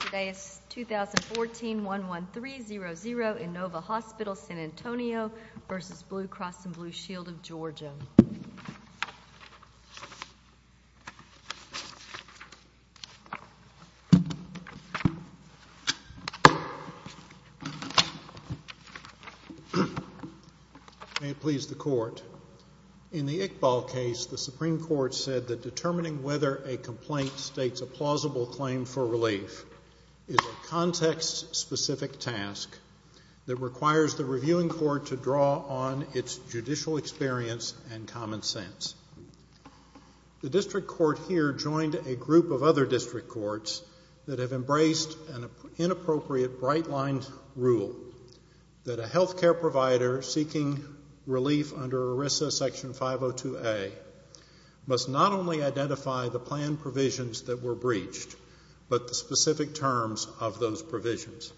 Today is 2014-11300 Innova Hospital San Antonio v. Blue Cross & Blue Shield of Georgia. May it please the court. In the Iqbal case, the Supreme Court said that determining whether a complaint states a plausible claim for relief is a context-specific task that requires the reviewing court to draw on its judicial experience and common sense. The district court here joined a group of other district courts that have embraced an inappropriate, bright-lined rule that a health care provider seeking relief under ERISA Section 502A must not only identify the planned provisions that were breached, but the specific terms of those provisions.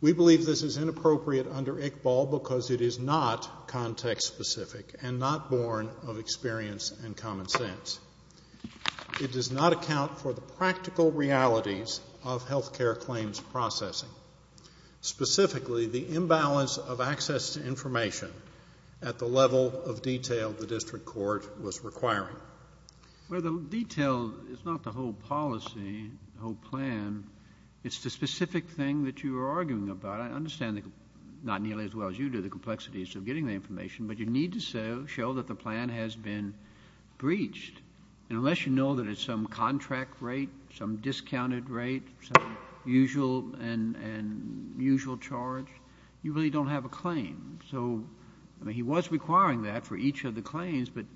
We believe this is inappropriate under Iqbal because it is not context-specific and not born of experience and common sense. It does not account for the practical realities of health care claims processing, specifically the imbalance of access to information at the level of detail the district court was requiring. Well, the detail is not the whole policy, the whole plan. It's the specific thing that you are arguing about. I understand not nearly as well as you do the complexities of getting the information, but you need to show that the plan has been breached. And unless you know that it's some contract rate, some discounted rate, some usual charge, you really don't have a claim. So, I mean, he was requiring that for each of the claims, but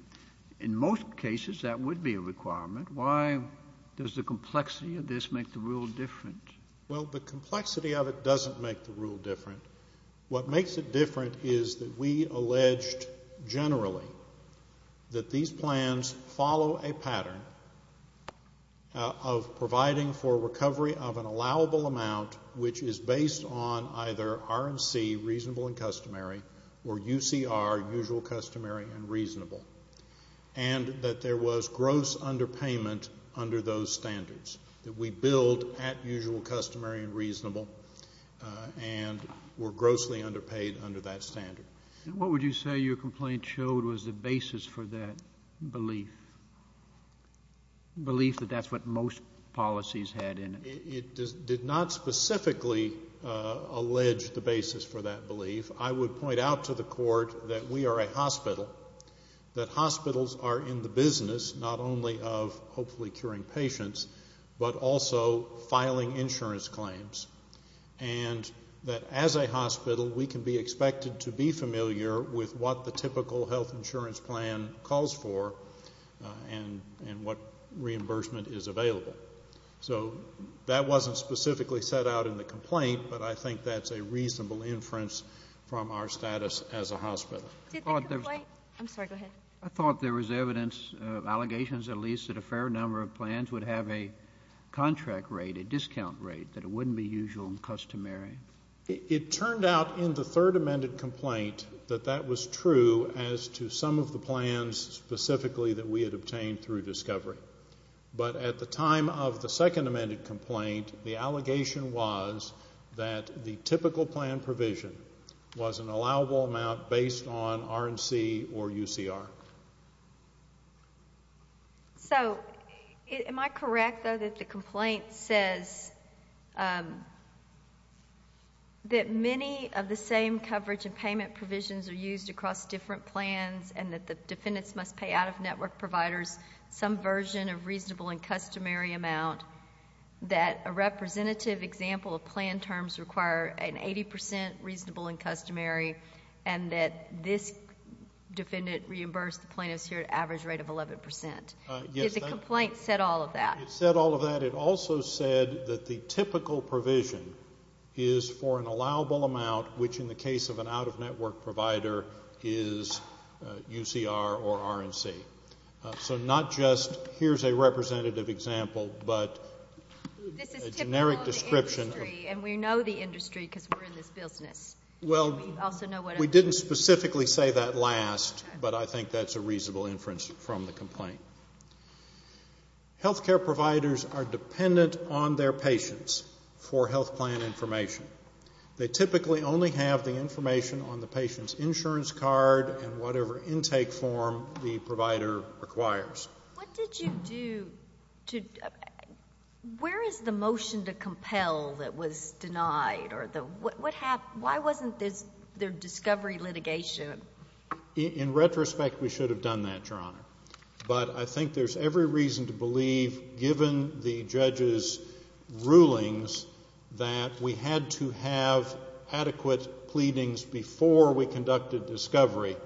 in most cases that would be a requirement. Why does the complexity of this make the rule different? Well, the complexity of it doesn't make the rule different. What makes it different is that we alleged generally that these plans follow a pattern of providing for recovery of an allowable amount, which is based on either RMC, reasonable and customary, or UCR, usual, customary, and reasonable, and that there was gross underpayment under those standards that we build at usual, customary, and reasonable. And were grossly underpaid under that standard. And what would you say your complaint showed was the basis for that belief, belief that that's what most policies had in it? It did not specifically allege the basis for that belief. I would point out to the court that we are a hospital, that hospitals are in the business not only of hopefully curing patients, but also filing insurance claims, and that as a hospital we can be expected to be familiar with what the typical health insurance plan calls for and what reimbursement is available. So that wasn't specifically set out in the complaint, but I think that's a reasonable inference from our status as a hospital. I thought there was evidence, allegations at least, that a fair number of plans would have a contract rate, a discount rate, that it wouldn't be usual and customary. It turned out in the third amended complaint that that was true as to some of the plans specifically that we had obtained through discovery. But at the time of the second amended complaint, the allegation was that the typical plan provision was an allowable amount based on R&C or UCR. So am I correct, though, that the complaint says that many of the same coverage and payment provisions are used across different plans and that the defendants must pay out-of-network providers some version of reasonable and customary amount, that a representative example of plan terms require an 80 percent reasonable and customary, and that this defendant reimbursed the plaintiffs here at an average rate of 11 percent? Did the complaint set all of that? It set all of that. In fact, it also said that the typical provision is for an allowable amount, which in the case of an out-of-network provider is UCR or R&C. So not just here's a representative example, but a generic description. This is typical of the industry, and we know the industry because we're in this business. Well, we didn't specifically say that last, but I think that's a reasonable inference from the complaint. Health care providers are dependent on their patients for health plan information. They typically only have the information on the patient's insurance card and whatever intake form the provider requires. What did you do to ñ where is the motion to compel that was denied? Why wasn't there discovery litigation? In retrospect, we should have done that, Your Honor. But I think there's every reason to believe, given the judge's rulings, that we had to have adequate pleadings before we conducted discovery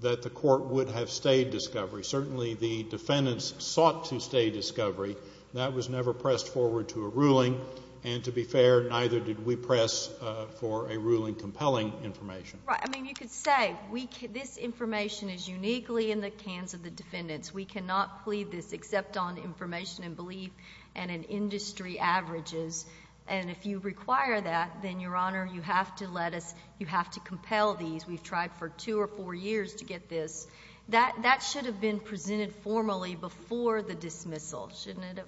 that the court would have stayed discovery. Certainly the defendants sought to stay discovery. That was never pressed forward to a ruling, and to be fair, neither did we press for a ruling compelling information. Right. I mean, you could say this information is uniquely in the hands of the defendants. We cannot plead this except on information and belief and in industry averages. And if you require that, then, Your Honor, you have to let us ñ you have to compel these. We've tried for two or four years to get this. That should have been presented formally before the dismissal, shouldn't it have?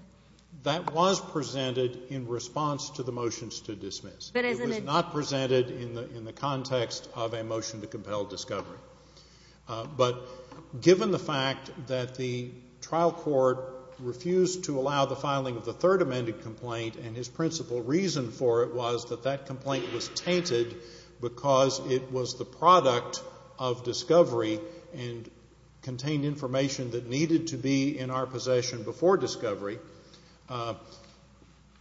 That was presented in response to the motions to dismiss. It was not presented in the context of a motion to compel discovery. But given the fact that the trial court refused to allow the filing of the third amended complaint and his principal reason for it was that that complaint was tainted because it was the product of discovery and contained information that needed to be in our possession before discovery,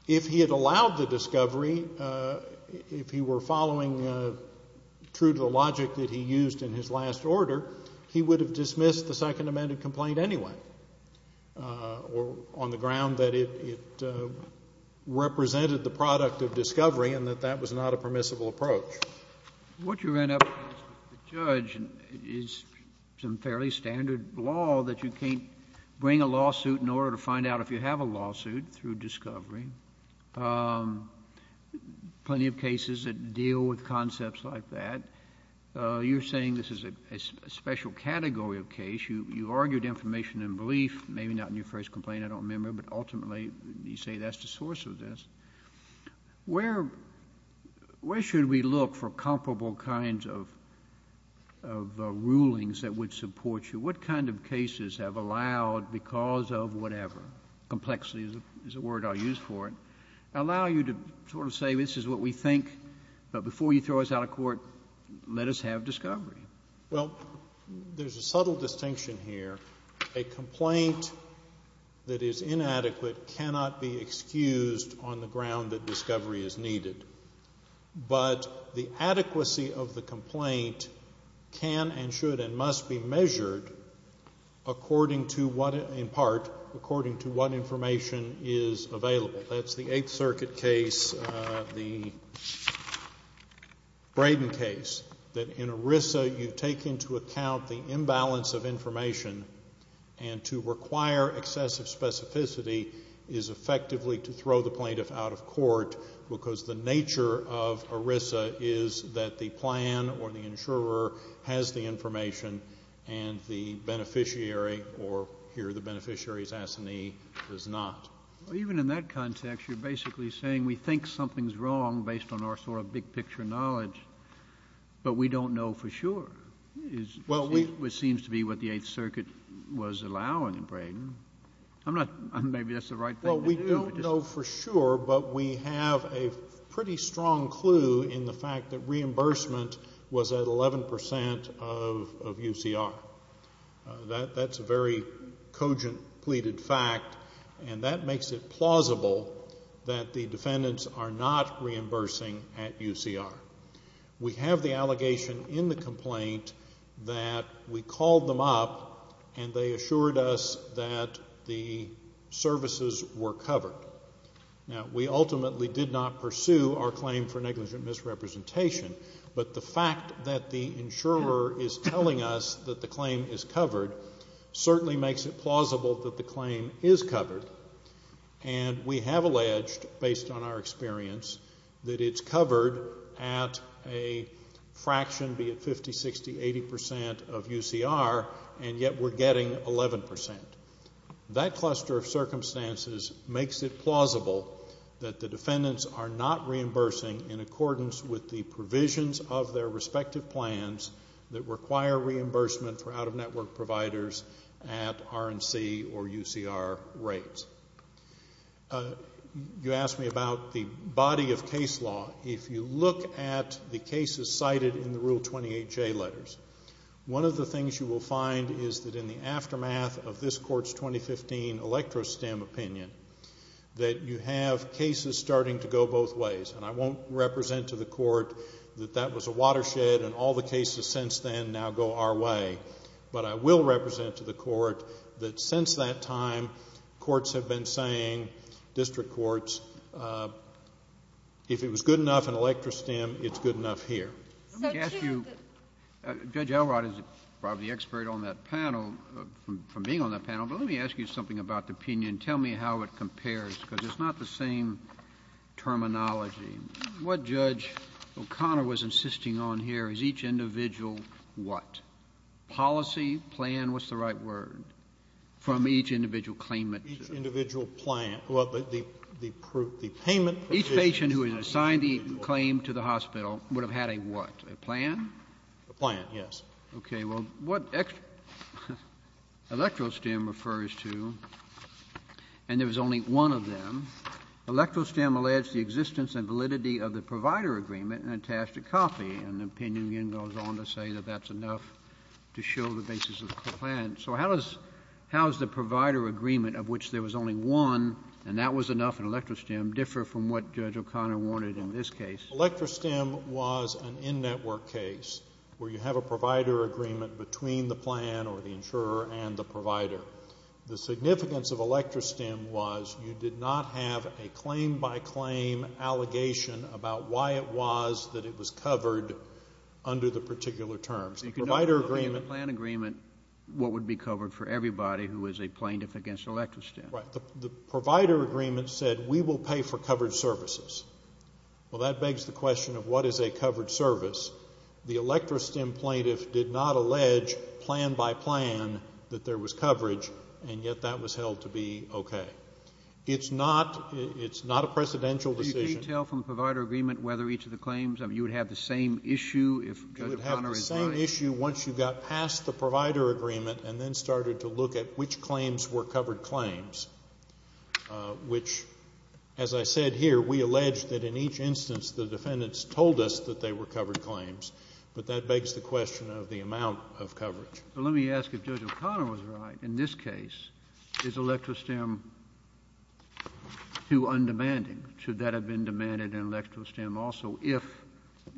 if he had allowed the discovery, if he were following true to the logic that he used in his last order, he would have dismissed the second amended complaint anyway, on the ground that it represented the product of discovery and that that was not a permissible approach. What you end up with, Judge, is some fairly standard law that you can't bring a lawsuit in order to find out if you have a lawsuit through discovery, plenty of cases that deal with concepts like that. You're saying this is a special category of case. You argued information and belief, maybe not in your first complaint, I don't remember, but ultimately you say that's the source of this. Where should we look for comparable kinds of rulings that would support you? What kind of cases have allowed because of whatever, complexity is a word I'll use for it, allow you to sort of say this is what we think, but before you throw us out of court, let us have discovery? Well, there's a subtle distinction here. A complaint that is inadequate cannot be excused on the ground that discovery is needed. But the adequacy of the complaint can and should and must be measured according to what, in part, according to what information is available. That's the Eighth Circuit case, the Braden case, that in ERISA you take into account the imbalance of information and to require excessive specificity is effectively to throw the plaintiff out of court because the nature of ERISA is that the plan or the insurer has the information and the beneficiary or here the beneficiary's assignee does not. Even in that context, you're basically saying we think something's wrong based on our sort of big picture knowledge, but we don't know for sure, which seems to be what the Eighth Circuit was allowing in Braden. Maybe that's the right thing to do. Well, we don't know for sure, but we have a pretty strong clue in the fact that reimbursement was at 11% of UCR. That's a very cogent pleaded fact, and that makes it plausible that the defendants are not reimbursing at UCR. We have the allegation in the complaint that we called them up and they assured us that the services were covered. Now, we ultimately did not pursue our claim for negligent misrepresentation, but the fact that the insurer is telling us that the claim is covered certainly makes it plausible that the claim is covered, and we have alleged, based on our experience, that it's covered at a fraction, be it 50, 60, 80% of UCR, and yet we're getting 11%. That cluster of circumstances makes it plausible that the defendants are not reimbursing in accordance with the provisions of their respective plans that require reimbursement for out-of-network providers at RNC or UCR rates. You asked me about the body of case law. If you look at the cases cited in the Rule 28J letters, one of the things you will find is that in the aftermath of this Court's 2015 Electro-STEM opinion, that you have cases starting to go both ways, and I won't represent to the Court that that was a watershed and all the cases since then now go our way, but I will represent to the Court that since that time, courts have been saying, district courts, if it was good enough in Electro-STEM, it's good enough here. Judge Elrod is probably the expert on that panel, from being on that panel, but let me ask you something about the opinion. Tell me how it compares, because it's not the same terminology. What Judge O'Connor was insisting on here is each individual what? Policy, plan, what's the right word? From each individual claimant. Each individual plan. Well, the payment provision. Each patient who is assigned the claim to the hospital would have had a what? A plan? A plan, yes. Okay. Well, what Electro-STEM refers to, and there was only one of them, Electro-STEM alleged the existence and validity of the provider agreement and attached a copy, and the opinion again goes on to say that that's enough to show the basis of the plan. So how does the provider agreement, of which there was only one, and that was enough in Electro-STEM, differ from what Judge O'Connor wanted in this case? Electro-STEM was an in-network case where you have a provider agreement between the plan or the insurer and the provider. The significance of Electro-STEM was you did not have a claim-by-claim allegation about why it was that it was covered under the particular terms. The provider agreement. If you don't have a plan agreement, what would be covered for everybody who is a plaintiff against Electro-STEM? Right. The provider agreement said we will pay for covered services. Well, that begs the question of what is a covered service. The Electro-STEM plaintiff did not allege plan-by-plan that there was coverage, and yet that was held to be okay. It's not a precedential decision. Can you tell from the provider agreement whether each of the claims, you would have the same issue if Judge O'Connor is right? You would have the same issue once you got past the provider agreement and then started to look at which claims were covered claims, which, as I said here, we allege that in each instance the defendants told us that they were covered claims. But that begs the question of the amount of coverage. Well, let me ask if Judge O'Connor was right in this case. Is Electro-STEM too undemanding? Should that have been demanded in Electro-STEM also if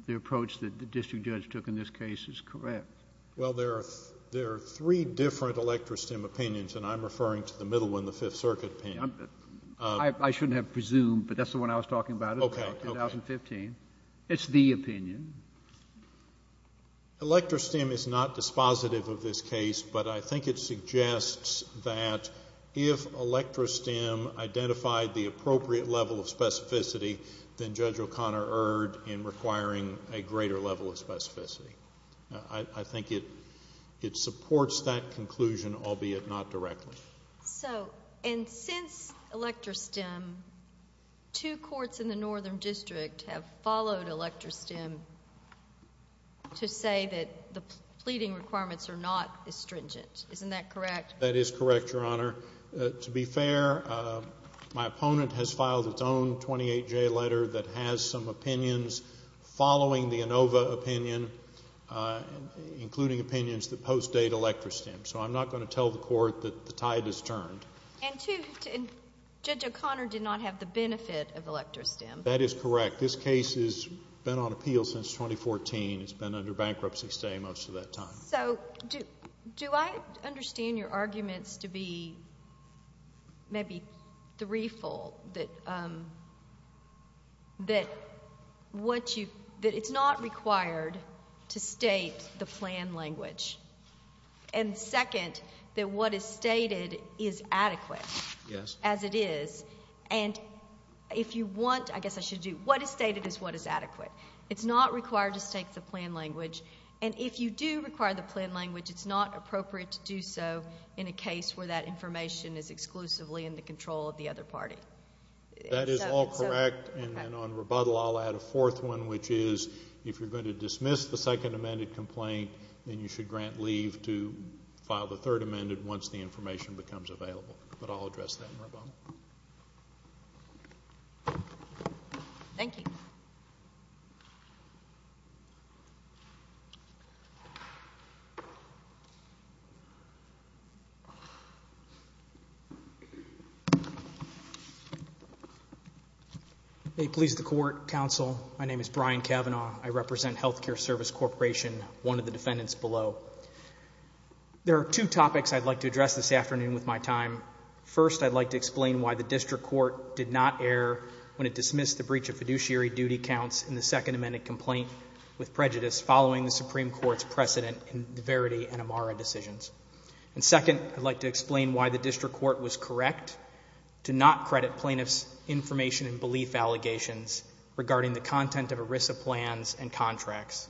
the approach that the district judge took in this case is correct? Well, there are three different Electro-STEM opinions, and I'm referring to the middle one, the Fifth Circuit opinion. I shouldn't have presumed, but that's the one I was talking about in 2015. It's the opinion. Electro-STEM is not dispositive of this case, but I think it suggests that if Electro-STEM identified the appropriate level of specificity, then Judge O'Connor erred in requiring a greater level of specificity. I think it supports that conclusion, albeit not directly. So, and since Electro-STEM, two courts in the northern district have followed Electro-STEM to say that the pleading requirements are not astringent. Isn't that correct? That is correct, Your Honor. To be fair, my opponent has filed its own 28-J letter that has some opinions following the ANOVA opinion, including opinions that post-date Electro-STEM. So I'm not going to tell the court that the tide has turned. And two, Judge O'Connor did not have the benefit of Electro-STEM. That is correct. This case has been on appeal since 2014. It's been under bankruptcy stay most of that time. So do I understand your arguments to be maybe threefold, that it's not required to state the plan language? And second, that what is stated is adequate. Yes. As it is. And if you want, I guess I should do, what is stated is what is adequate. It's not required to state the plan language. And if you do require the plan language, it's not appropriate to do so in a case where that information is exclusively in the control of the other party. That is all correct. And then on rebuttal, I'll add a fourth one, which is if you're going to dismiss the second amended complaint, then you should grant leave to file the third amended once the information becomes available. But I'll address that in rebuttal. Thank you. May it please the Court, Counsel, my name is Brian Cavanaugh. I represent Healthcare Service Corporation, one of the defendants below. There are two topics I'd like to address this afternoon with my time. First, I'd like to explain why the district court did not err when it dismissed the breach of fiduciary duty counts in the second amended complaint with prejudice following the Supreme Court's precedent in the Verity and Amara decisions. And second, I'd like to explain why the district court was correct to not credit plaintiffs' information and belief allegations regarding the content of ERISA plans and contracts.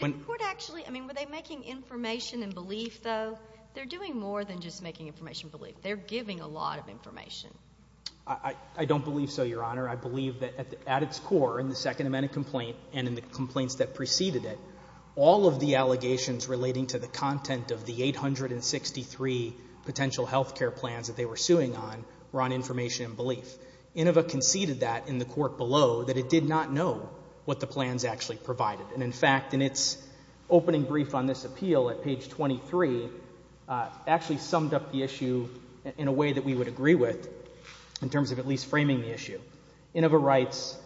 Did the court actually, I mean, were they making information and belief, though? They're doing more than just making information and belief. They're giving a lot of information. I don't believe so, Your Honor. I believe that at its core in the second amended complaint and in the complaints that preceded it, all of the allegations relating to the content of the 863 potential health care plans that they were suing on were on information and belief. INOVA conceded that in the court below that it did not know what the plans actually provided. And in fact, in its opening brief on this appeal at page 23, it actually summed up the issue in a way that we would agree with in terms of at least framing the issue. INOVA writes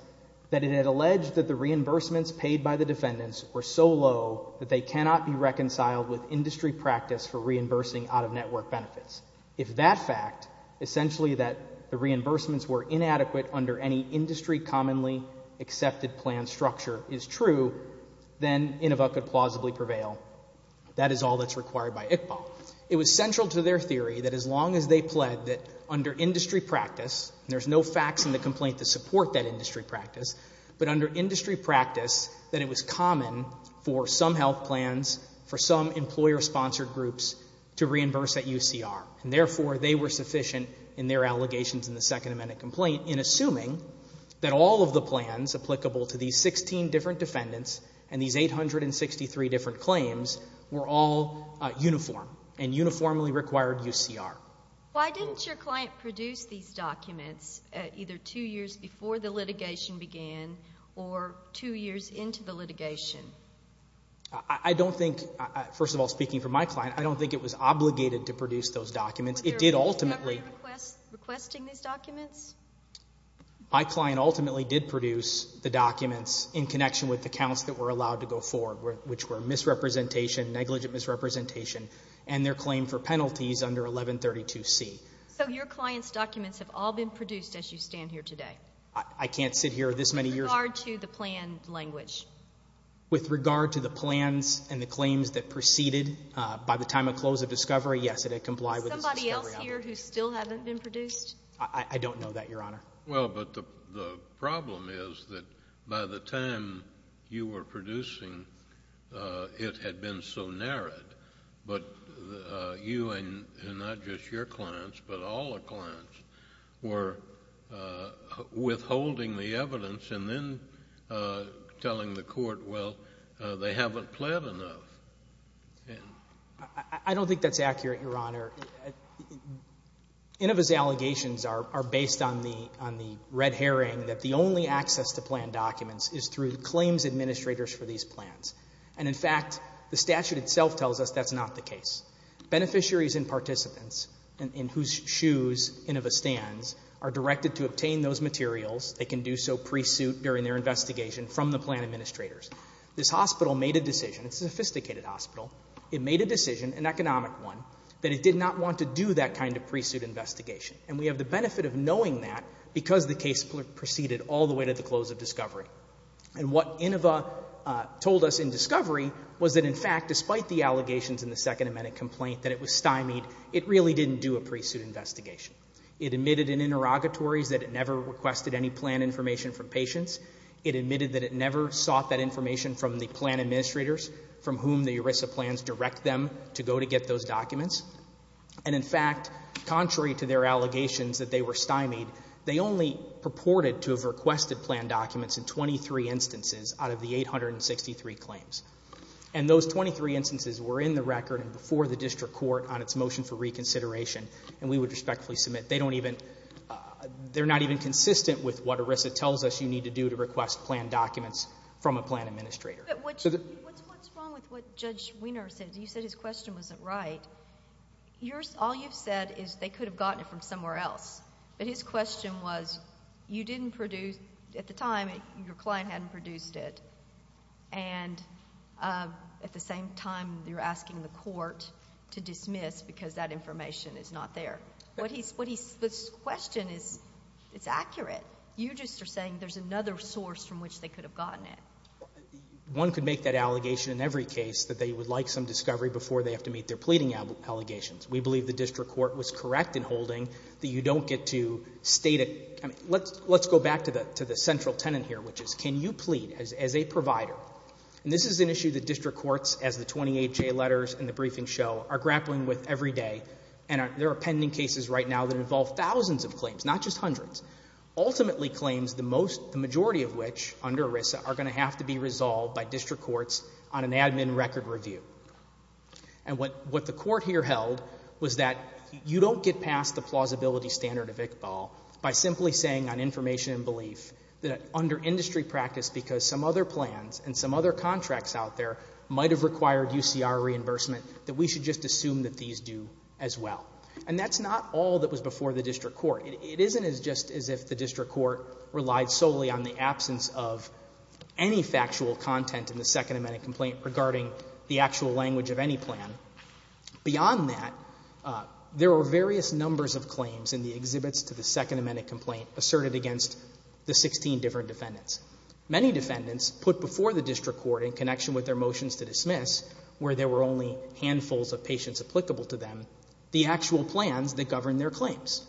that it had alleged that the reimbursements paid by the defendants were so low that they cannot be reconciled with industry practice for reimbursing out-of-network benefits. If that fact, essentially that the reimbursements were inadequate under any industry commonly accepted plan structure, is true, then INOVA could plausibly prevail. That is all that's required by ICPA. It was central to their theory that as long as they pled that under industry practice, and there's no facts in the complaint to support that industry practice, but under industry practice that it was common for some health plans, for some employer-sponsored groups to reimburse at UCR. And therefore, they were sufficient in their allegations in the second amended complaint in assuming that all of the plans applicable to these 16 different defendants and these 863 different claims were all uniform and uniformly required UCR. Why didn't your client produce these documents either two years before the litigation began or two years into the litigation? I don't think, first of all, speaking for my client, I don't think it was obligated to produce those documents. It did ultimately. Was there a government request requesting these documents? My client ultimately did produce the documents in connection with the counts that were allowed to go forward, which were misrepresentation, negligent misrepresentation, and their claim for penalties under 1132C. So your client's documents have all been produced as you stand here today? I can't sit here this many years. With regard to the plan language? With regard to the plans and the claims that proceeded by the time of close of discovery, yes, it complied with the discovery. Is somebody else here who still haven't been produced? I don't know that, Your Honor. Well, but the problem is that by the time you were producing it had been so narrowed, but you and not just your clients but all the clients were withholding the evidence and then telling the court, well, they haven't pled enough. I don't think that's accurate, Your Honor. Inova's allegations are based on the red herring that the only access to plan documents is through the claims administrators for these plans. And, in fact, the statute itself tells us that's not the case. Beneficiaries and participants in whose shoes Inova stands are directed to obtain those materials. They can do so pre-suit during their investigation from the plan administrators. This hospital made a decision. It's a sophisticated hospital. It made a decision, an economic one, that it did not want to do that kind of pre-suit investigation. And we have the benefit of knowing that because the case proceeded all the way to the close of discovery. And what Inova told us in discovery was that, in fact, despite the allegations in the Second Amendment complaint that it was stymied, it really didn't do a pre-suit investigation. It admitted in interrogatories that it never requested any plan information from patients. It admitted that it never sought that information from the plan administrators from whom the ERISA plans direct them to go to get those documents. And, in fact, contrary to their allegations that they were stymied, they only purported to have requested plan documents in 23 instances out of the 863 claims. And those 23 instances were in the record and before the district court on its motion for reconsideration, and we would respectfully submit. They're not even consistent with what ERISA tells us you need to do to request plan documents from a plan administrator. But what's wrong with what Judge Weiner said? You said his question wasn't right. All you've said is they could have gotten it from somewhere else. But his question was you didn't produce, at the time your client hadn't produced it, and at the same time you're asking the court to dismiss because that information is not there. This question is accurate. You just are saying there's another source from which they could have gotten it. One could make that allegation in every case that they would like some discovery before they have to meet their pleading allegations. We believe the district court was correct in holding that you don't get to state it. Let's go back to the central tenet here, which is can you plead as a provider? And this is an issue that district courts, as the 28 J letters in the briefing show, are grappling with every day, and there are pending cases right now that involve thousands of claims, not just hundreds, ultimately claims the majority of which, under ERISA, are going to have to be resolved by district courts on an admin record review. And what the court here held was that you don't get past the plausibility standard of Iqbal by simply saying on information and belief that under industry practice, because some other plans and some other contracts out there might have required UCR reimbursement, that we should just assume that these do as well. And that's not all that was before the district court. It isn't as just as if the district court relied solely on the absence of any factual content in the Second Amendment complaint regarding the actual language of any plan. Beyond that, there were various numbers of claims in the exhibits to the Second Amendment complaint asserted against the 16 different defendants. Many defendants put before the district court in connection with their motions to dismiss, where there were only handfuls of patients applicable to them, the actual plans that govern their claims.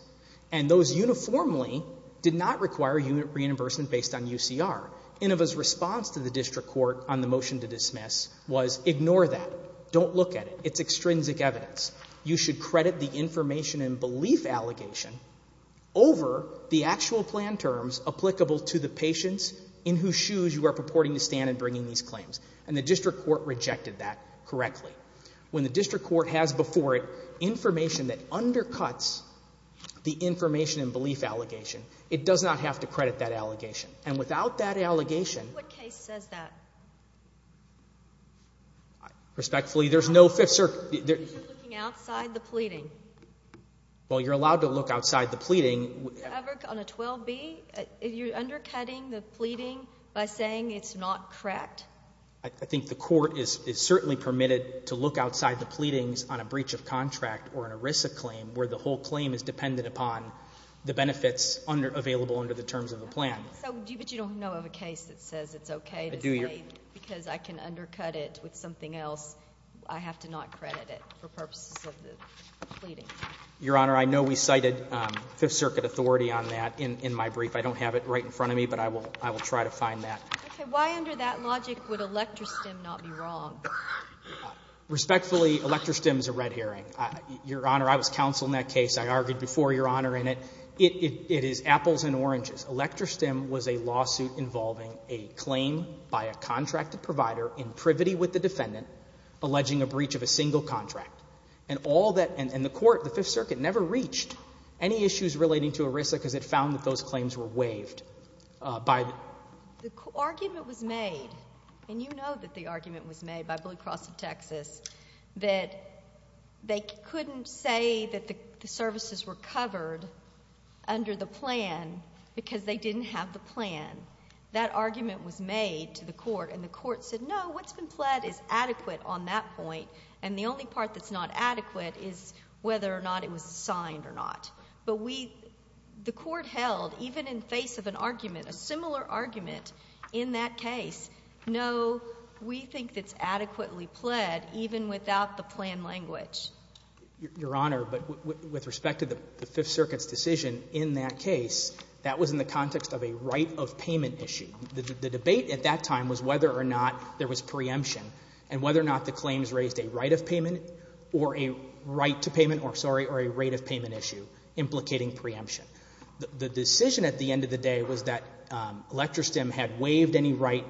And those uniformly did not require reimbursement based on UCR. Inova's response to the district court on the motion to dismiss was ignore that. Don't look at it. It's extrinsic evidence. You should credit the information and belief allegation over the actual plan terms applicable to the patients in whose shoes you are purporting to stand in bringing these claims. And the district court rejected that correctly. When the district court has before it information that undercuts the information and belief allegation, it does not have to credit that allegation. And without that allegation. What case says that? Respectfully, there's no Fifth Circuit. You're looking outside the pleading. Well, you're allowed to look outside the pleading. On a 12B, you're undercutting the pleading by saying it's not correct? I think the court is certainly permitted to look outside the pleadings on a breach of contract or an ERISA claim where the whole claim is dependent upon the benefits available under the terms of the plan. But you don't know of a case that says it's okay to say because I can undercut it with something else, I have to not credit it for purposes of the pleading? Your Honor, I know we cited Fifth Circuit authority on that in my brief. I don't have it right in front of me, but I will try to find that. Okay. Why under that logic would Electra Stem not be wrong? Respectfully, Electra Stem is a red herring. Your Honor, I was counsel in that case. I argued before, Your Honor, in it. It is apples and oranges. Electra Stem was a lawsuit involving a claim by a contracted provider in privity with the defendant alleging a breach of a single contract. And all that, and the court, the Fifth Circuit, never reached any issues relating to ERISA because it found that those claims were waived by the. The argument was made, and you know that the argument was made by Blue Cross of Texas, that they couldn't say that the services were covered under the plan because they didn't have the plan. That argument was made to the court, and the court said, no, what's been pled is adequate on that point, and the only part that's not adequate is whether or not it was signed or not. But we, the court held, even in face of an argument, a similar argument in that case, no, we think it's adequately pled even without the plan language. Your Honor, but with respect to the Fifth Circuit's decision in that case, that was in the context of a right of payment issue. The debate at that time was whether or not there was preemption and whether or not the claims raised a right of payment or a right to payment or, sorry, or a right of payment issue implicating preemption. The decision at the end of the day was that ElectroStem had waived any right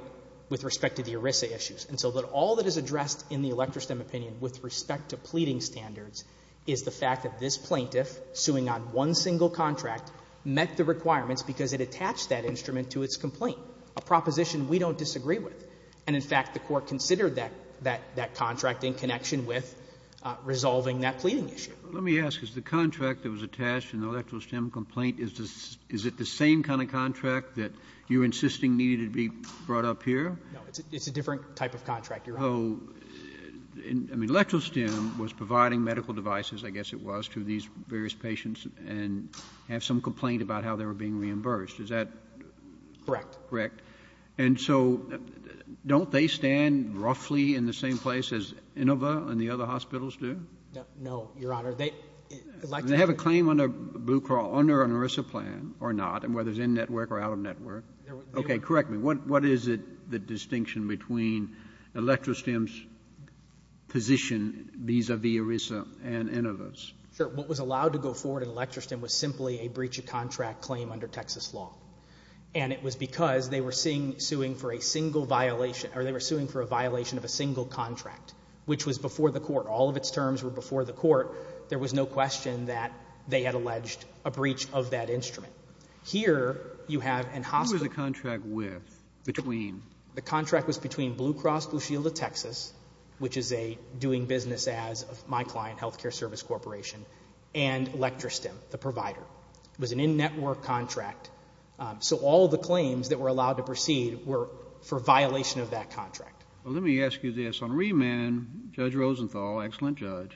with respect to the ERISA issues. And so that all that is addressed in the ElectroStem opinion with respect to pleading standards is the fact that this plaintiff, suing on one single contract, met the requirements because it attached that instrument to its complaint, a proposition we don't disagree with. And, in fact, the court considered that contract in connection with resolving that pleading issue. Let me ask. Is the contract that was attached in the ElectroStem complaint, is it the same kind of contract that you're insisting needed to be brought up here? No. It's a different type of contract, Your Honor. Oh. I mean, ElectroStem was providing medical devices, I guess it was, to these various patients and have some complaint about how they were being reimbursed. Is that correct? Correct. And so don't they stand roughly in the same place as Inova and the other hospitals do? No, Your Honor. They have a claim under Blue Crawl, under an ERISA plan or not, and whether it's in-network or out-of-network. Okay. Correct me. What is it, the distinction between ElectroStem's position vis-à-vis ERISA and Inova's? Sure. What was allowed to go forward in ElectroStem was simply a breach of contract claim under Texas law. And it was because they were suing for a violation of a single contract, which was before the court. All of its terms were before the court. There was no question that they had alleged a breach of that instrument. Who was the contract with, between? The contract was between Blue Cross Blue Shield of Texas, which is a doing business as of my client, Healthcare Service Corporation, and ElectroStem, the provider. It was an in-network contract. So all the claims that were allowed to proceed were for violation of that contract. Well, let me ask you this. On remand, Judge Rosenthal, excellent judge,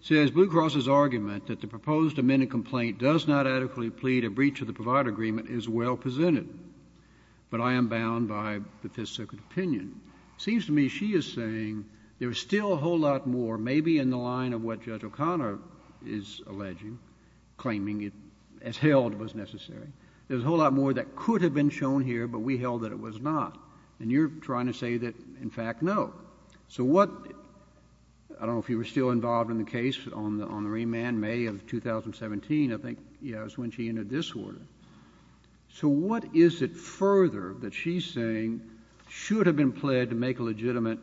says Blue Cross's argument that the proposed amended complaint does not adequately plead a breach of the provider agreement is well presented. But I am bound by the Fifth Circuit opinion. It seems to me she is saying there is still a whole lot more, maybe in the line of what Judge O'Connor is alleging, claiming it as held was necessary. There is a whole lot more that could have been shown here, but we held that it was not. And you are trying to say that, in fact, no. So what, I don't know if you were still involved in the case on the remand, May of 2017, I think, yes, when she entered this order. So what is it further that she is saying should have been pled to make a legitimate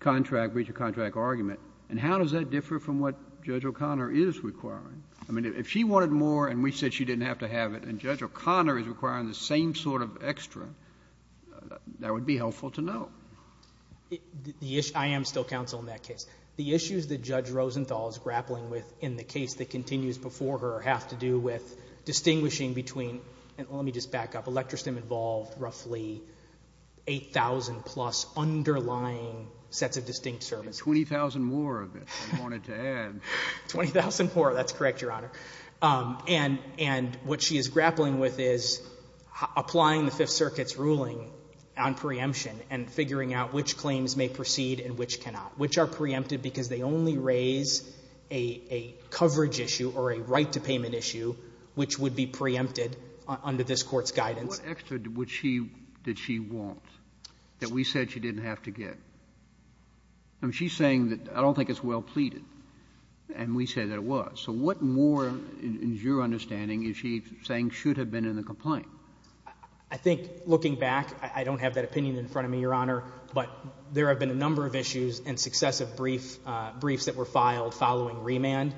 contract, breach of contract argument? And how does that differ from what Judge O'Connor is requiring? I mean, if she wanted more and we said she didn't have to have it, and Judge O'Connor is requiring the same sort of extra, that would be helpful to know. I am still counsel in that case. The issues that Judge Rosenthal is grappling with in the case that continues before her have to do with distinguishing between, and let me just back up, electrostim involved roughly 8,000 plus underlying sets of distinct services. And 20,000 more of it, I wanted to add. 20,000 more, that's correct, Your Honor. And what she is grappling with is applying the Fifth Circuit's ruling on preemption and figuring out which claims may proceed and which cannot, which are preempted because they only raise a coverage issue or a right to payment issue which would be preempted under this Court's guidance. What extra did she want that we said she didn't have to get? I mean, she is saying that I don't think it's well pleaded, and we said that it was. So what more, in your understanding, is she saying should have been in the complaint? I think, looking back, I don't have that opinion in front of me, Your Honor, but there have been a number of issues and successive briefs that were filed following remand.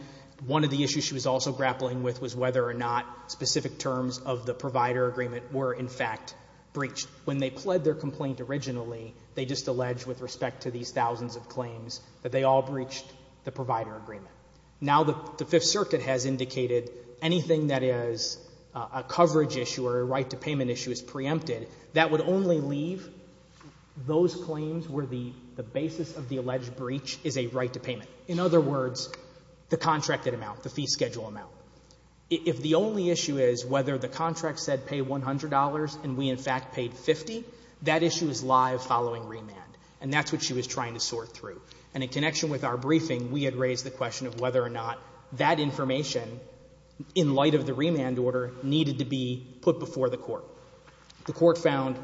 One of the issues she was also grappling with was whether or not specific terms of the provider agreement were, in fact, breached. When they pled their complaint originally, they just alleged with respect to these thousands of claims that they all breached the provider agreement. Now the Fifth Circuit has indicated anything that is a coverage issue or a right to payment issue is preempted. That would only leave those claims where the basis of the alleged breach is a right to payment. In other words, the contracted amount, the fee schedule amount. If the only issue is whether the contract said pay $100 and we, in fact, paid 50, that issue is live following remand. And that's what she was trying to sort through. And in connection with our briefing, we had raised the question of whether or not that court found,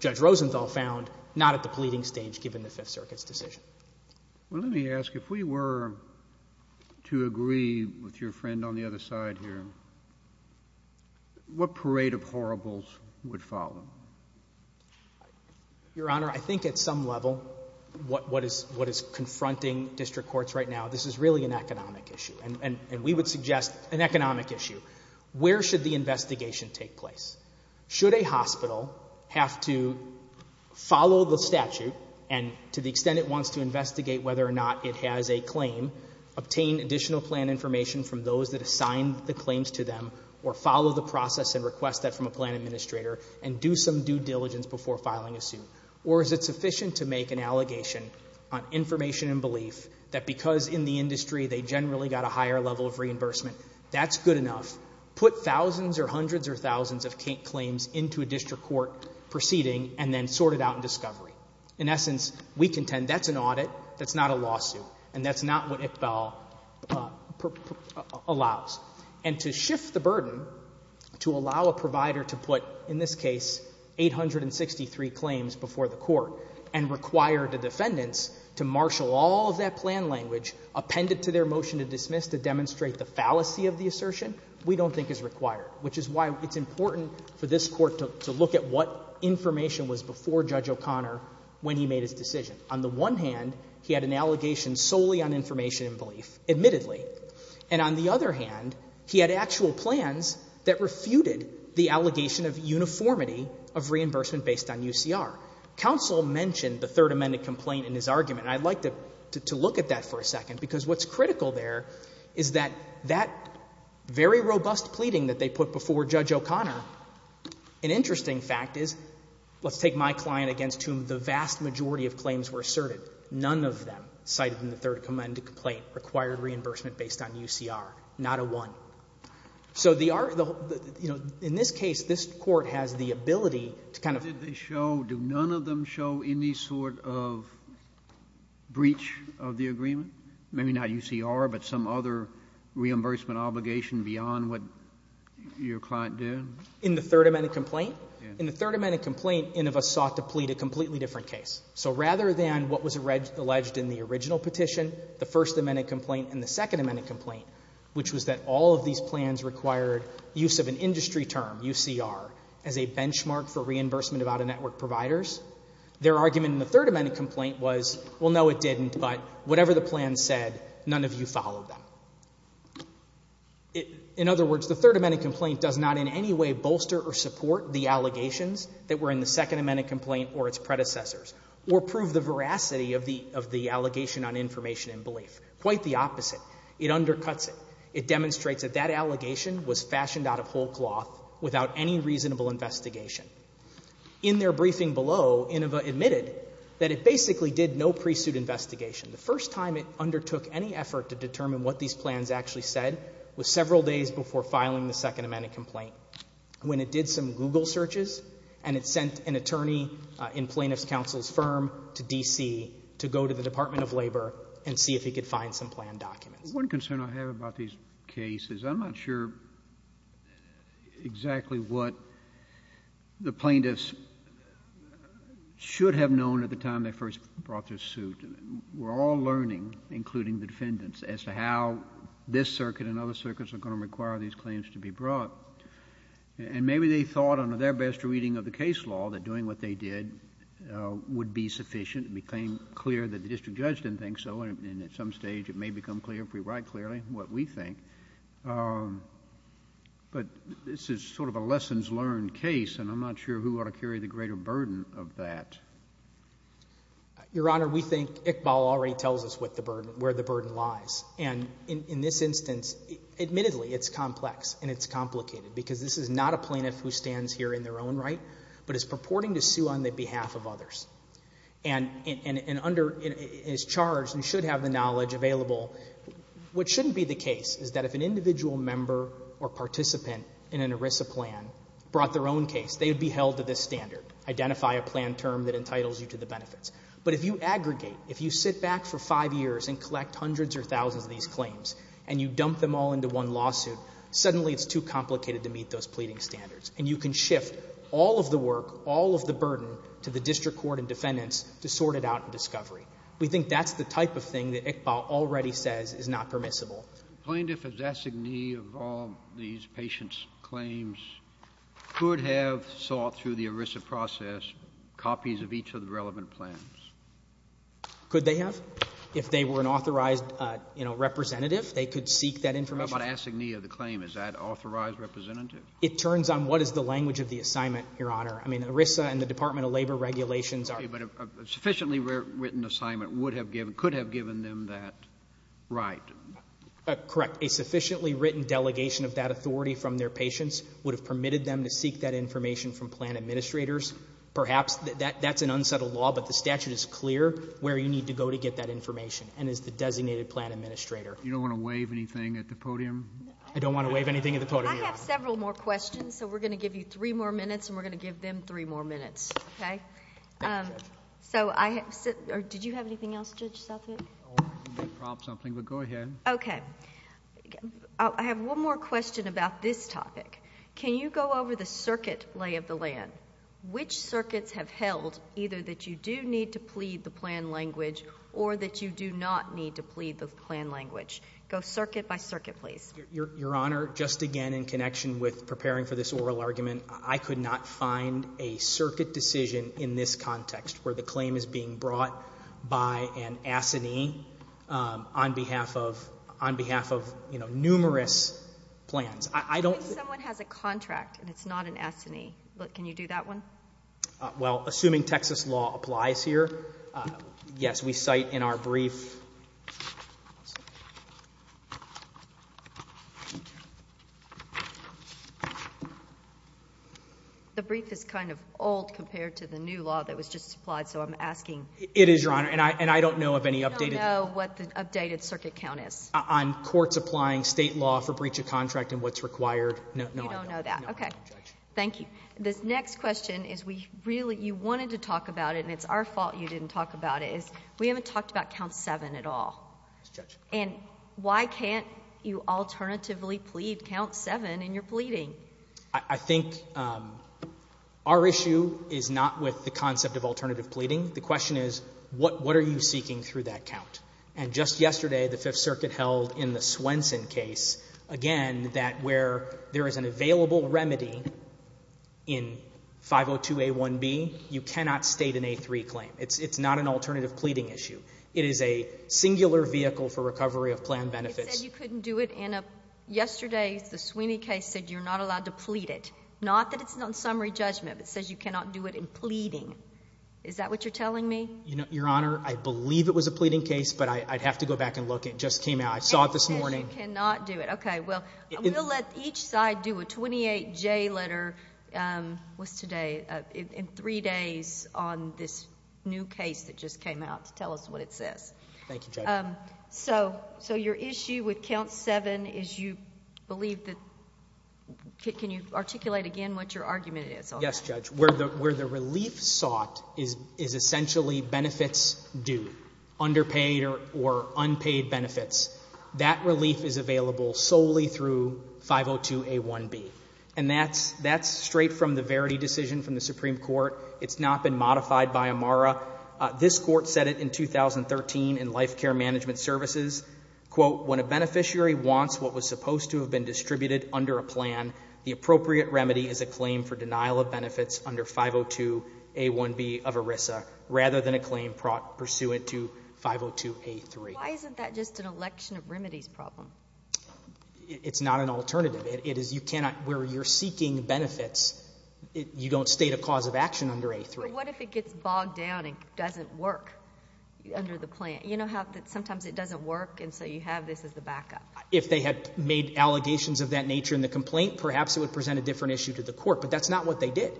Judge Rosenthal found, not at the pleading stage given the Fifth Circuit's decision. Well, let me ask, if we were to agree with your friend on the other side here, what parade of horribles would follow? Your Honor, I think at some level what is confronting district courts right now, this is really an economic issue. And we would suggest an economic issue. Where should the investigation take place? Should a hospital have to follow the statute, and to the extent it wants to investigate whether or not it has a claim, obtain additional plan information from those that assigned the claims to them, or follow the process and request that from a plan administrator, and do some due diligence before filing a suit? Or is it sufficient to make an allegation on information and belief that because in the industry they generally got a higher level of reimbursement, that's good enough? Put thousands or hundreds or thousands of claims into a district court proceeding and then sort it out in discovery. In essence, we contend that's an audit, that's not a lawsuit, and that's not what ICBAL allows. And to shift the burden to allow a provider to put, in this case, 863 claims before the court, and require the defendants to marshal all of that plan language, append it to their motion to dismiss to demonstrate the fallacy of the assertion, we don't think is required, which is why it's important for this Court to look at what information was before Judge O'Connor when he made his decision. On the one hand, he had an allegation solely on information and belief, admittedly. And on the other hand, he had actual plans that refuted the allegation of uniformity of reimbursement based on UCR. Counsel mentioned the Third Amendment complaint in his argument. And I'd like to look at that for a second, because what's critical there is that that very robust pleading that they put before Judge O'Connor, an interesting fact is, let's take my client against whom the vast majority of claims were asserted. None of them cited in the Third Amendment complaint required reimbursement based on UCR, not a one. So the — you know, in this case, this Court has the ability to kind of — Do none of them show any sort of breach of the agreement? Maybe not UCR, but some other reimbursement obligation beyond what your client did? In the Third Amendment complaint? In the Third Amendment complaint, Inhofe sought to plead a completely different case. So rather than what was alleged in the original petition, the First Amendment complaint and the Second Amendment complaint, which was that all of these plans required use of an industry term, UCR, as a benchmark for reimbursement about a network of providers, their argument in the Third Amendment complaint was, well, no, it didn't, but whatever the plan said, none of you followed them. In other words, the Third Amendment complaint does not in any way bolster or support the allegations that were in the Second Amendment complaint or its predecessors, or prove the veracity of the — of the allegation on information and belief. Quite the opposite. It undercuts it. It demonstrates that that allegation was fashioned out of whole cloth without any reasonable investigation. In their briefing below, Inhofe admitted that it basically did no pre-suit investigation. The first time it undertook any effort to determine what these plans actually said was several days before filing the Second Amendment complaint, when it did some Google searches and it sent an attorney in plaintiff's counsel's firm to D.C. to go to the Department of Labor and see if he could find some planned documents. One concern I have about these cases, I'm not sure exactly what the plaintiffs should have known at the time they first brought their suit. We're all learning, including the defendants, as to how this circuit and other circuits are going to require these claims to be brought. And maybe they thought under their best reading of the case law that doing what they did would be sufficient. It became clear that the district judge didn't think so, and at some stage it may become clear if we write clearly what we think. But this is sort of a lessons learned case, and I'm not sure who ought to carry the greater burden of that. Your Honor, we think Iqbal already tells us where the burden lies. And in this instance, admittedly, it's complex and it's complicated because this is not a plaintiff who stands here in their own right, but is purporting to sue on the behalf of others. And is charged and should have the knowledge available. What shouldn't be the case is that if an individual member or participant in an ERISA plan brought their own case, they would be held to this standard, identify a planned term that entitles you to the benefits. But if you aggregate, if you sit back for five years and collect hundreds or thousands of these claims, and you dump them all into one lawsuit, suddenly it's too complicated to meet those pleading standards. And you can shift all of the work, all of the burden to the district court and defendants to sort it out in discovery. We think that's the type of thing that Iqbal already says is not permissible. Plaintiff is assignee of all these patients' claims could have sought through the ERISA process copies of each of the relevant plans. Could they have? If they were an authorized, you know, representative, they could seek that information. How about assignee of the claim? Is that authorized representative? It turns on what is the language of the assignment, Your Honor. I mean, ERISA and the Department of Labor regulations are. Okay. But a sufficiently written assignment would have given, could have given them that right. Correct. A sufficiently written delegation of that authority from their patients would have permitted them to seek that information from plan administrators. Perhaps that's an unsettled law, but the statute is clear where you need to go to get that information and is the designated plan administrator. You don't want to waive anything at the podium? I don't want to waive anything at the podium. I have several more questions, so we're going to give you three more minutes and we're going to give them three more minutes. Okay? Thank you, Judge. So I have, or did you have anything else, Judge Southwood? I wanted to make a prompt or something, but go ahead. Okay. I have one more question about this topic. Can you go over the circuit lay of the land? Which circuits have held either that you do need to plead the plan language or that you do not need to plead the plan language? Go circuit by circuit, please. Your Honor, just again in connection with preparing for this oral argument, I could not find a circuit decision in this context where the claim is being brought by an assignee on behalf of numerous plans. If someone has a contract and it's not an assignee, can you do that one? Well, assuming Texas law applies here, yes. As we cite in our brief. The brief is kind of old compared to the new law that was just applied, so I'm asking. It is, Your Honor, and I don't know of any updated. You don't know what the updated circuit count is? On courts applying state law for breach of contract and what's required? No, I don't. You don't know that. No, I don't, Judge. Okay. Thank you. The next question is we really, you wanted to talk about it and it's our fault you didn't talk about it, is we haven't talked about count 7 at all. Yes, Judge. And why can't you alternatively plead count 7 in your pleading? I think our issue is not with the concept of alternative pleading. The question is what are you seeking through that count? And just yesterday the Fifth Circuit held in the Swenson case, again, that where there is an available remedy in 502A1B, you cannot state an A3 claim. It's not an alternative pleading issue. It is a singular vehicle for recovery of planned benefits. It said you couldn't do it in a, yesterday the Sweeney case said you're not allowed to plead it. Not that it's on summary judgment, but it says you cannot do it in pleading. Is that what you're telling me? Your Honor, I believe it was a pleading case, but I'd have to go back and look. It just came out. I saw it this morning. It says you cannot do it. Okay. Well, we'll let each side do a 28J letter. What's today? In three days on this new case that just came out to tell us what it says. Thank you, Judge. So your issue with count 7 is you believe that, can you articulate again what your argument is? Yes, Judge. Where the relief sought is essentially benefits due, underpaid or unpaid benefits. That relief is available solely through 502A1B. And that's straight from the Verity decision from the Supreme Court. It's not been modified by Amara. This court said it in 2013 in Life Care Management Services. Quote, when a beneficiary wants what was supposed to have been distributed under a plan, the appropriate remedy is a claim for denial of benefits under 502A1B of ERISA, rather than a claim pursuant to 502A3. Why isn't that just an election of remedies problem? It's not an alternative. It is you cannot, where you're seeking benefits, you don't state a cause of action under A3. But what if it gets bogged down and doesn't work under the plan? You know how sometimes it doesn't work, and so you have this as the backup? If they had made allegations of that nature in the complaint, perhaps it would present a different issue to the court. But that's not what they did.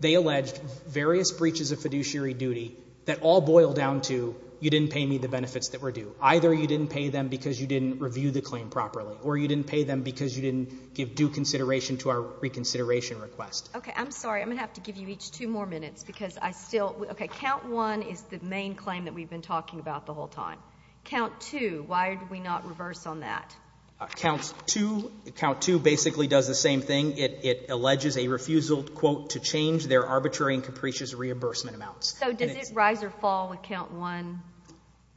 They alleged various breaches of fiduciary duty that all boil down to you didn't pay me the benefits that were due. Either you didn't pay them because you didn't review the claim properly, or you didn't pay them because you didn't give due consideration to our reconsideration request. Okay, I'm sorry. I'm going to have to give you each two more minutes because I still ‑‑ okay, count one is the main claim that we've been talking about the whole time. Count two, why did we not reverse on that? Count two basically does the same thing. It alleges a refusal, quote, to change their arbitrary and capricious reimbursement amounts. So does it rise or fall with count one?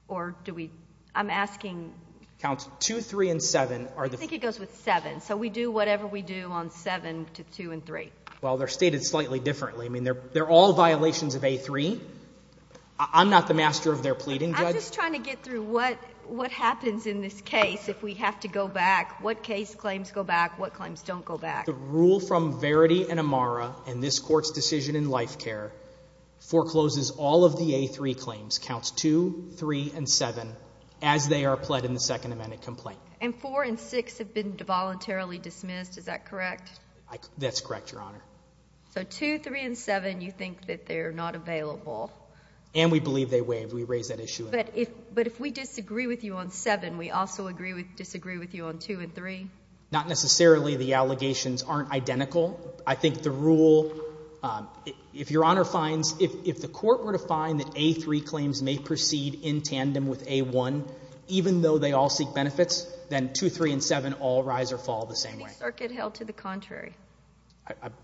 Or do we ‑‑ I'm asking ‑‑ Counts two, three, and seven are the ‑‑ I think it goes with seven. So we do whatever we do on seven to two and three. Well, they're stated slightly differently. I mean, they're all violations of A3. I'm not the master of their pleading, Judge. I'm just trying to get through what happens in this case if we have to go back. What case claims go back? What claims don't go back? The rule from Verity and Amara in this court's decision in life care forecloses all of the A3 claims, counts two, three, and seven, as they are pled in the Second Amendment complaint. And four and six have been voluntarily dismissed. Is that correct? That's correct, Your Honor. So two, three, and seven, you think that they're not available. And we believe they waive. We raise that issue. But if we disagree with you on seven, we also disagree with you on two and three? Not necessarily. The allegations aren't identical. I think the rule, if Your Honor finds, if the Court were to find that A3 claims may proceed in tandem with A1, even though they all seek benefits, then two, three, and seven all rise or fall the same way. I think Circuit held to the contrary.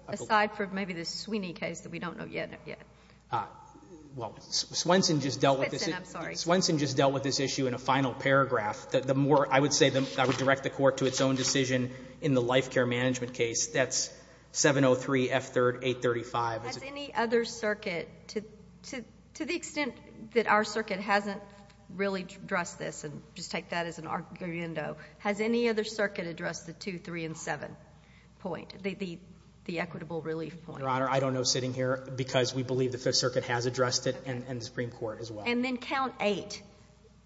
Aside from maybe the Sweeney case that we don't know yet. Well, Swenson just dealt with this issue. Swenson, I'm sorry. Swenson just dealt with this issue in a final paragraph. I would say that would direct the Court to its own decision in the life care management case. That's 703 F3rd 835. Has any other circuit, to the extent that our circuit hasn't really addressed this, and just take that as an argument, has any other circuit addressed the two, three, and seven point, the equitable relief point? Your Honor, I don't know sitting here because we believe the Fifth Circuit has addressed it and the Supreme Court as well. And then count eight.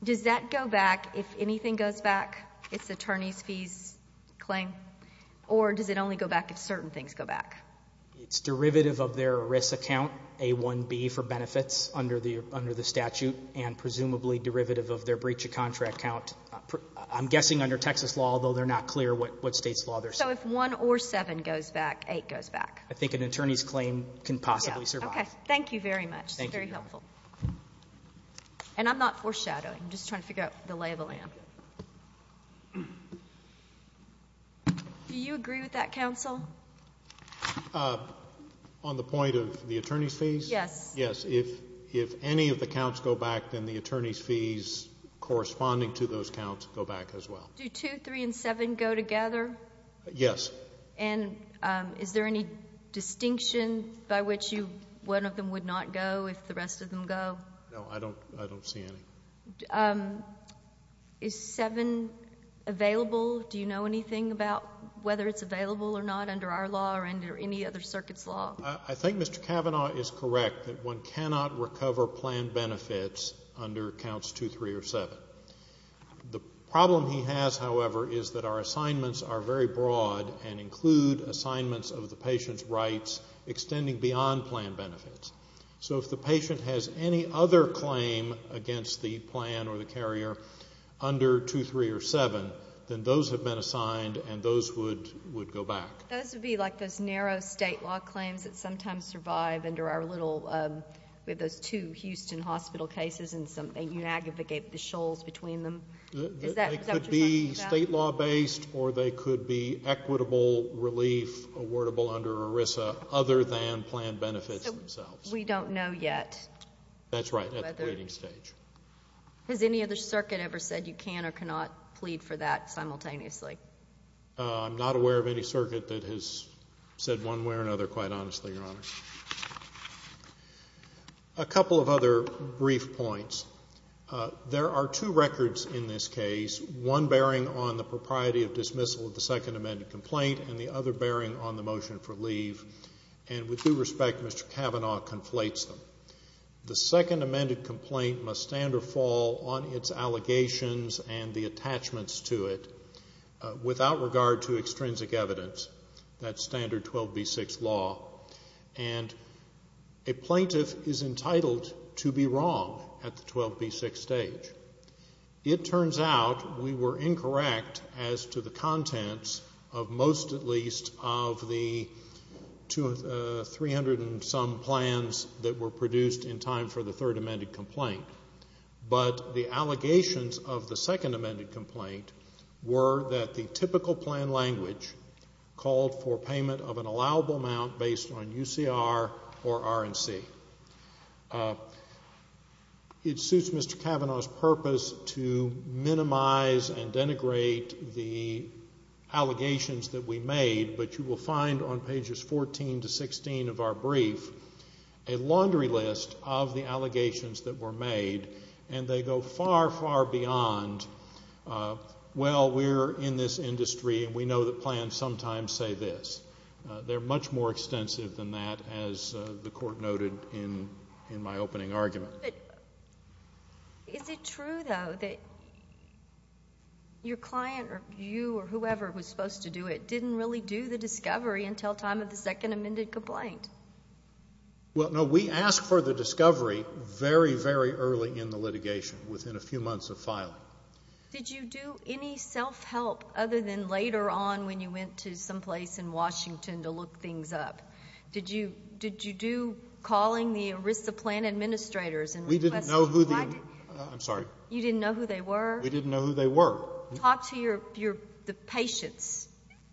Does that go back if anything goes back, its attorney's fees claim, or does it only go back if certain things go back? It's derivative of their ERISA count, A1B for benefits under the statute, and presumably derivative of their breach of contract count. I'm guessing under Texas law, although they're not clear what state's law they're saying. So if one or seven goes back, eight goes back. I think an attorney's claim can possibly survive. Okay. Thank you very much. Thank you, Your Honor. That's helpful. And I'm not foreshadowing. I'm just trying to figure out the lay of the land. Do you agree with that, counsel? On the point of the attorney's fees? Yes. Yes. If any of the counts go back, then the attorney's fees corresponding to those counts go back as well. Do two, three, and seven go together? Yes. And is there any distinction by which one of them would not go if the rest of them go? No. I don't see any. Is seven available? Do you know anything about whether it's available or not under our law or under any other circuit's law? I think Mr. Kavanaugh is correct that one cannot recover planned benefits under counts two, three, or seven. The problem he has, however, is that our assignments are very broad and include assignments of the patient's rights extending beyond planned benefits. So if the patient has any other claim against the plan or the carrier under two, three, or seven, then those have been assigned and those would go back. Those would be like those narrow state law claims that sometimes survive under our little we have those two Houston hospital cases and they unaggregate the shoals between them. Is that what you're talking about? They could be state law based or they could be equitable relief awardable under ERISA other than planned benefits themselves. We don't know yet. That's right, at the pleading stage. Has any other circuit ever said you can or cannot plead for that simultaneously? I'm not aware of any circuit that has said one way or another, quite honestly, Your Honor. A couple of other brief points. There are two records in this case, one bearing on the propriety of dismissal of the second amended complaint and the other bearing on the motion for leave, and with due respect, Mr. Kavanaugh conflates them. The second amended complaint must stand or fall on its allegations and the attachments to it without regard to extrinsic evidence, that standard 12B6 law, and a plaintiff is entitled to be wrong at the 12B6 stage. It turns out we were incorrect as to the contents of most at least of the 300 and some plans that were produced in time for the third amended complaint, but the allegations of the second amended complaint were that the typical plan language called for payment of an allowable amount based on UCR or RNC. It suits Mr. Kavanaugh's purpose to minimize and denigrate the allegations that we made, but you will find on pages 14 to 16 of our brief a laundry list of the allegations that were made, and they go far, far beyond, well, we're in this industry and we know that plans sometimes say this. They're much more extensive than that, as the Court noted in my opening argument. Is it true, though, that your client or you or whoever was supposed to do it didn't really do the discovery until time of the second amended complaint? Well, no. We asked for the discovery very, very early in the litigation, within a few months of filing. Did you do any self-help other than later on when you went to someplace in Washington to look things up? Did you do calling the ERISA plan administrators and request them? We didn't know who theóI'm sorry. You didn't know who they were? We didn't know who they were. Talk to the patients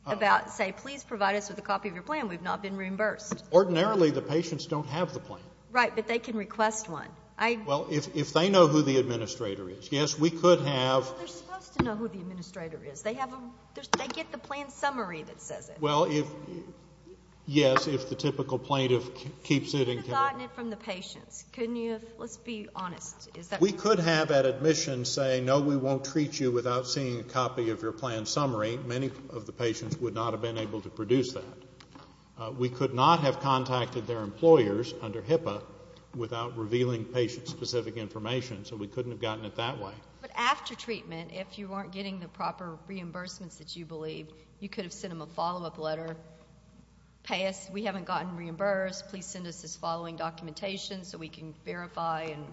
about, say, please provide us with a copy of your plan. We've not been reimbursed. Ordinarily, the patients don't have the plan. Right, but they can request one. Well, if they know who the administrator is, yes, we could haveó They're supposed to know who the administrator is. They get the plan summary that says it. Well, yes, if the typical plaintiff keeps itó You could have gotten it from the patients, couldn't you have? Let's be honest. We could have, at admission, say, no, we won't treat you without seeing a copy of your plan summary. Many of the patients would not have been able to produce that. We could not have contacted their employers under HIPAA without revealing patient-specific information, so we couldn't have gotten it that way. But after treatment, if you weren't getting the proper reimbursements that you believed, you could have sent them a follow-up letter, pay us, we haven't gotten reimbursed, please send us this following documentation so we can verify and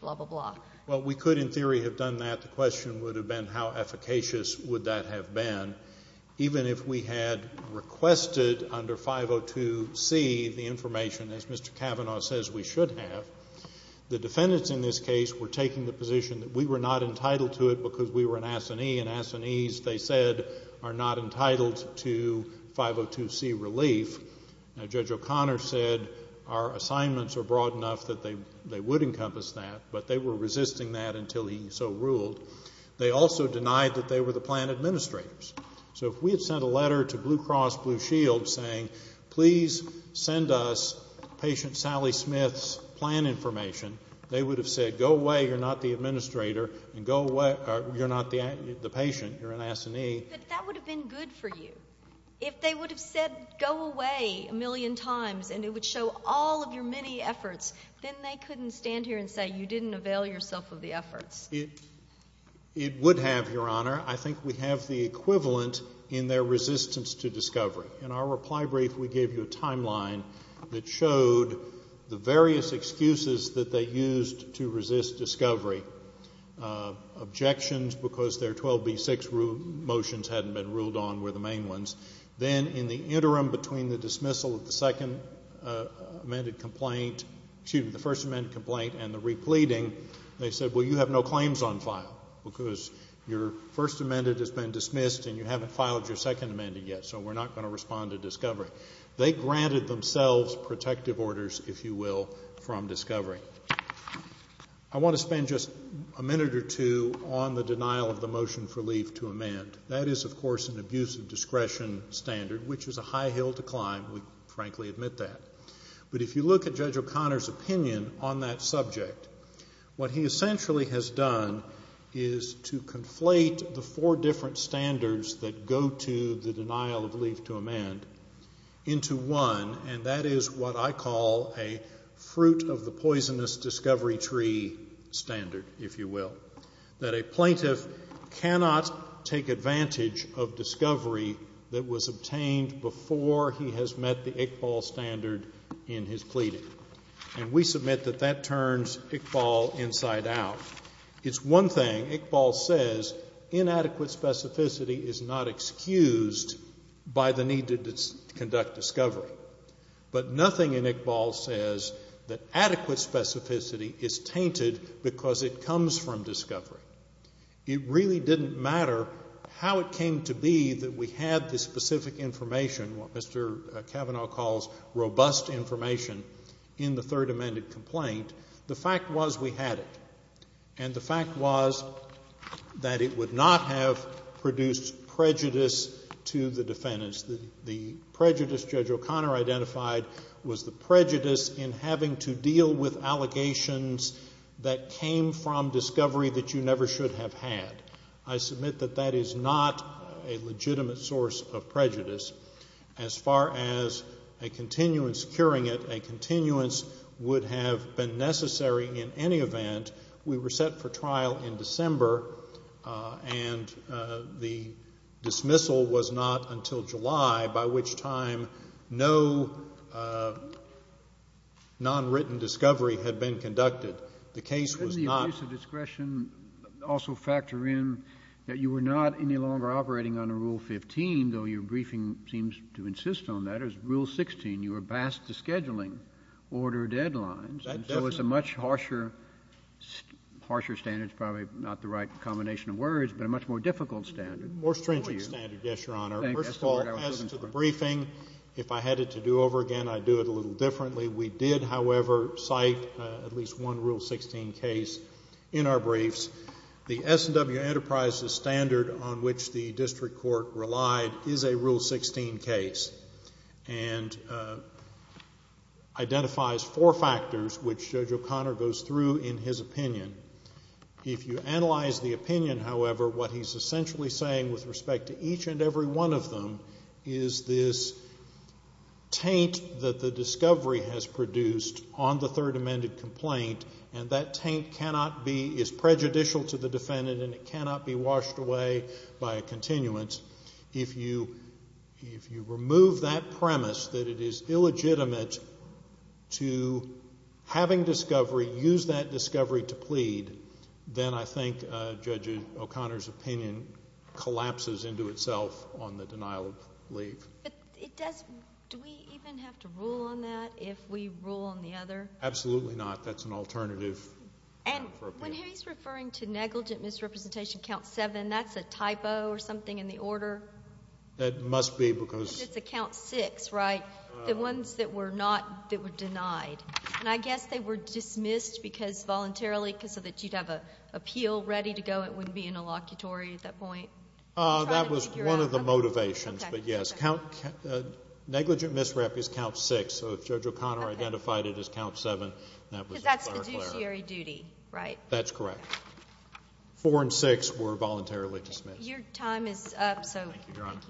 blah, blah, blah. Well, we could in theory have done that. The question would have been how efficacious would that have been. Even if we had requested under 502C the information, as Mr. Kavanaugh says we should have, the defendants in this case were taking the position that we were not entitled to it because we were an assinee, and assinees, they said, are not entitled to 502C relief. Judge O'Connor said our assignments are broad enough that they would encompass that, but they were resisting that until he so ruled. They also denied that they were the plan administrators. So if we had sent a letter to Blue Cross Blue Shield saying, please send us patient Sally Smith's plan information, they would have said go away, you're not the administrator, and go away, you're not the patient, you're an assinee. But that would have been good for you. If they would have said go away a million times and it would show all of your many efforts, then they couldn't stand here and say you didn't avail yourself of the efforts. It would have, Your Honor. I think we have the equivalent in their resistance to discovery. In our reply brief we gave you a timeline that showed the various excuses that they used to resist discovery. Objections because their 12B6 motions hadn't been ruled on were the main ones. Then in the interim between the dismissal of the second amended complaint, excuse me, the first amended complaint and the repleting, they said, well, you have no claims on file, because your first amended has been dismissed and you haven't filed your second amended yet, so we're not going to respond to discovery. They granted themselves protective orders, if you will, from discovery. I want to spend just a minute or two on the denial of the motion for leave to amend. That is, of course, an abuse of discretion standard, which is a high hill to climb. We frankly admit that. But if you look at Judge O'Connor's opinion on that subject, what he essentially has done is to conflate the four different standards that go to the denial of leave to amend into one, and that is what I call a fruit of the poisonous discovery tree standard, if you will, that a plaintiff cannot take advantage of discovery that was obtained before he has met the Iqbal standard in his pleading. And we submit that that turns Iqbal inside out. It's one thing, Iqbal says, inadequate specificity is not excused by the need to conduct discovery. But nothing in Iqbal says that adequate specificity is tainted because it comes from discovery. It really didn't matter how it came to be that we had this specific information, what Mr. Kavanaugh calls robust information, in the third amended complaint. The fact was we had it. And the fact was that it would not have produced prejudice to the defendants. The prejudice Judge O'Connor identified was the prejudice in having to deal with allegations that came from discovery that you never should have had. I submit that that is not a legitimate source of prejudice. As far as a continuance curing it, a continuance would have been necessary in any event. We were set for trial in December, and the dismissal was not until July, by which time no nonwritten discovery had been conducted. The case was not. Can the abuse of discretion also factor in that you were not any longer operating under Rule 15, though your briefing seems to insist on that. It was Rule 16. You were passed the scheduling order deadlines. And so it's a much harsher standard. It's probably not the right combination of words, but a much more difficult standard. More stringent standard, yes, Your Honor. First of all, as to the briefing, if I had it to do over again, I'd do it a little differently. We did, however, cite at least one Rule 16 case in our briefs. The S&W Enterprises standard on which the district court relied is a Rule 16 case and identifies four factors, which Judge O'Connor goes through in his opinion. If you analyze the opinion, however, what he's essentially saying with respect to each and every one of them is this taint that the discovery has produced on the third amended complaint, and that taint cannot be, is prejudicial to the defendant, and it cannot be washed away by a continuance. If you remove that premise that it is illegitimate to having discovery, use that discovery to plead, then I think Judge O'Connor's opinion collapses into itself on the denial of leave. But it does – do we even have to rule on that if we rule on the other? Absolutely not. That's an alternative. And when he's referring to negligent misrepresentation, Count 7, that's a typo or something in the order? It must be because – Because it's a Count 6, right? The ones that were not – that were denied. And I guess they were dismissed because voluntarily, so that you'd have an appeal ready to go. It wouldn't be an allocutory at that point. That was one of the motivations, but yes. Negligent misrep is Count 6, so if Judge O'Connor identified it as Count 7, that was a clear error. That's correct. Four and six were voluntarily dismissed. Your time is up, so – Thank you, Your Honor.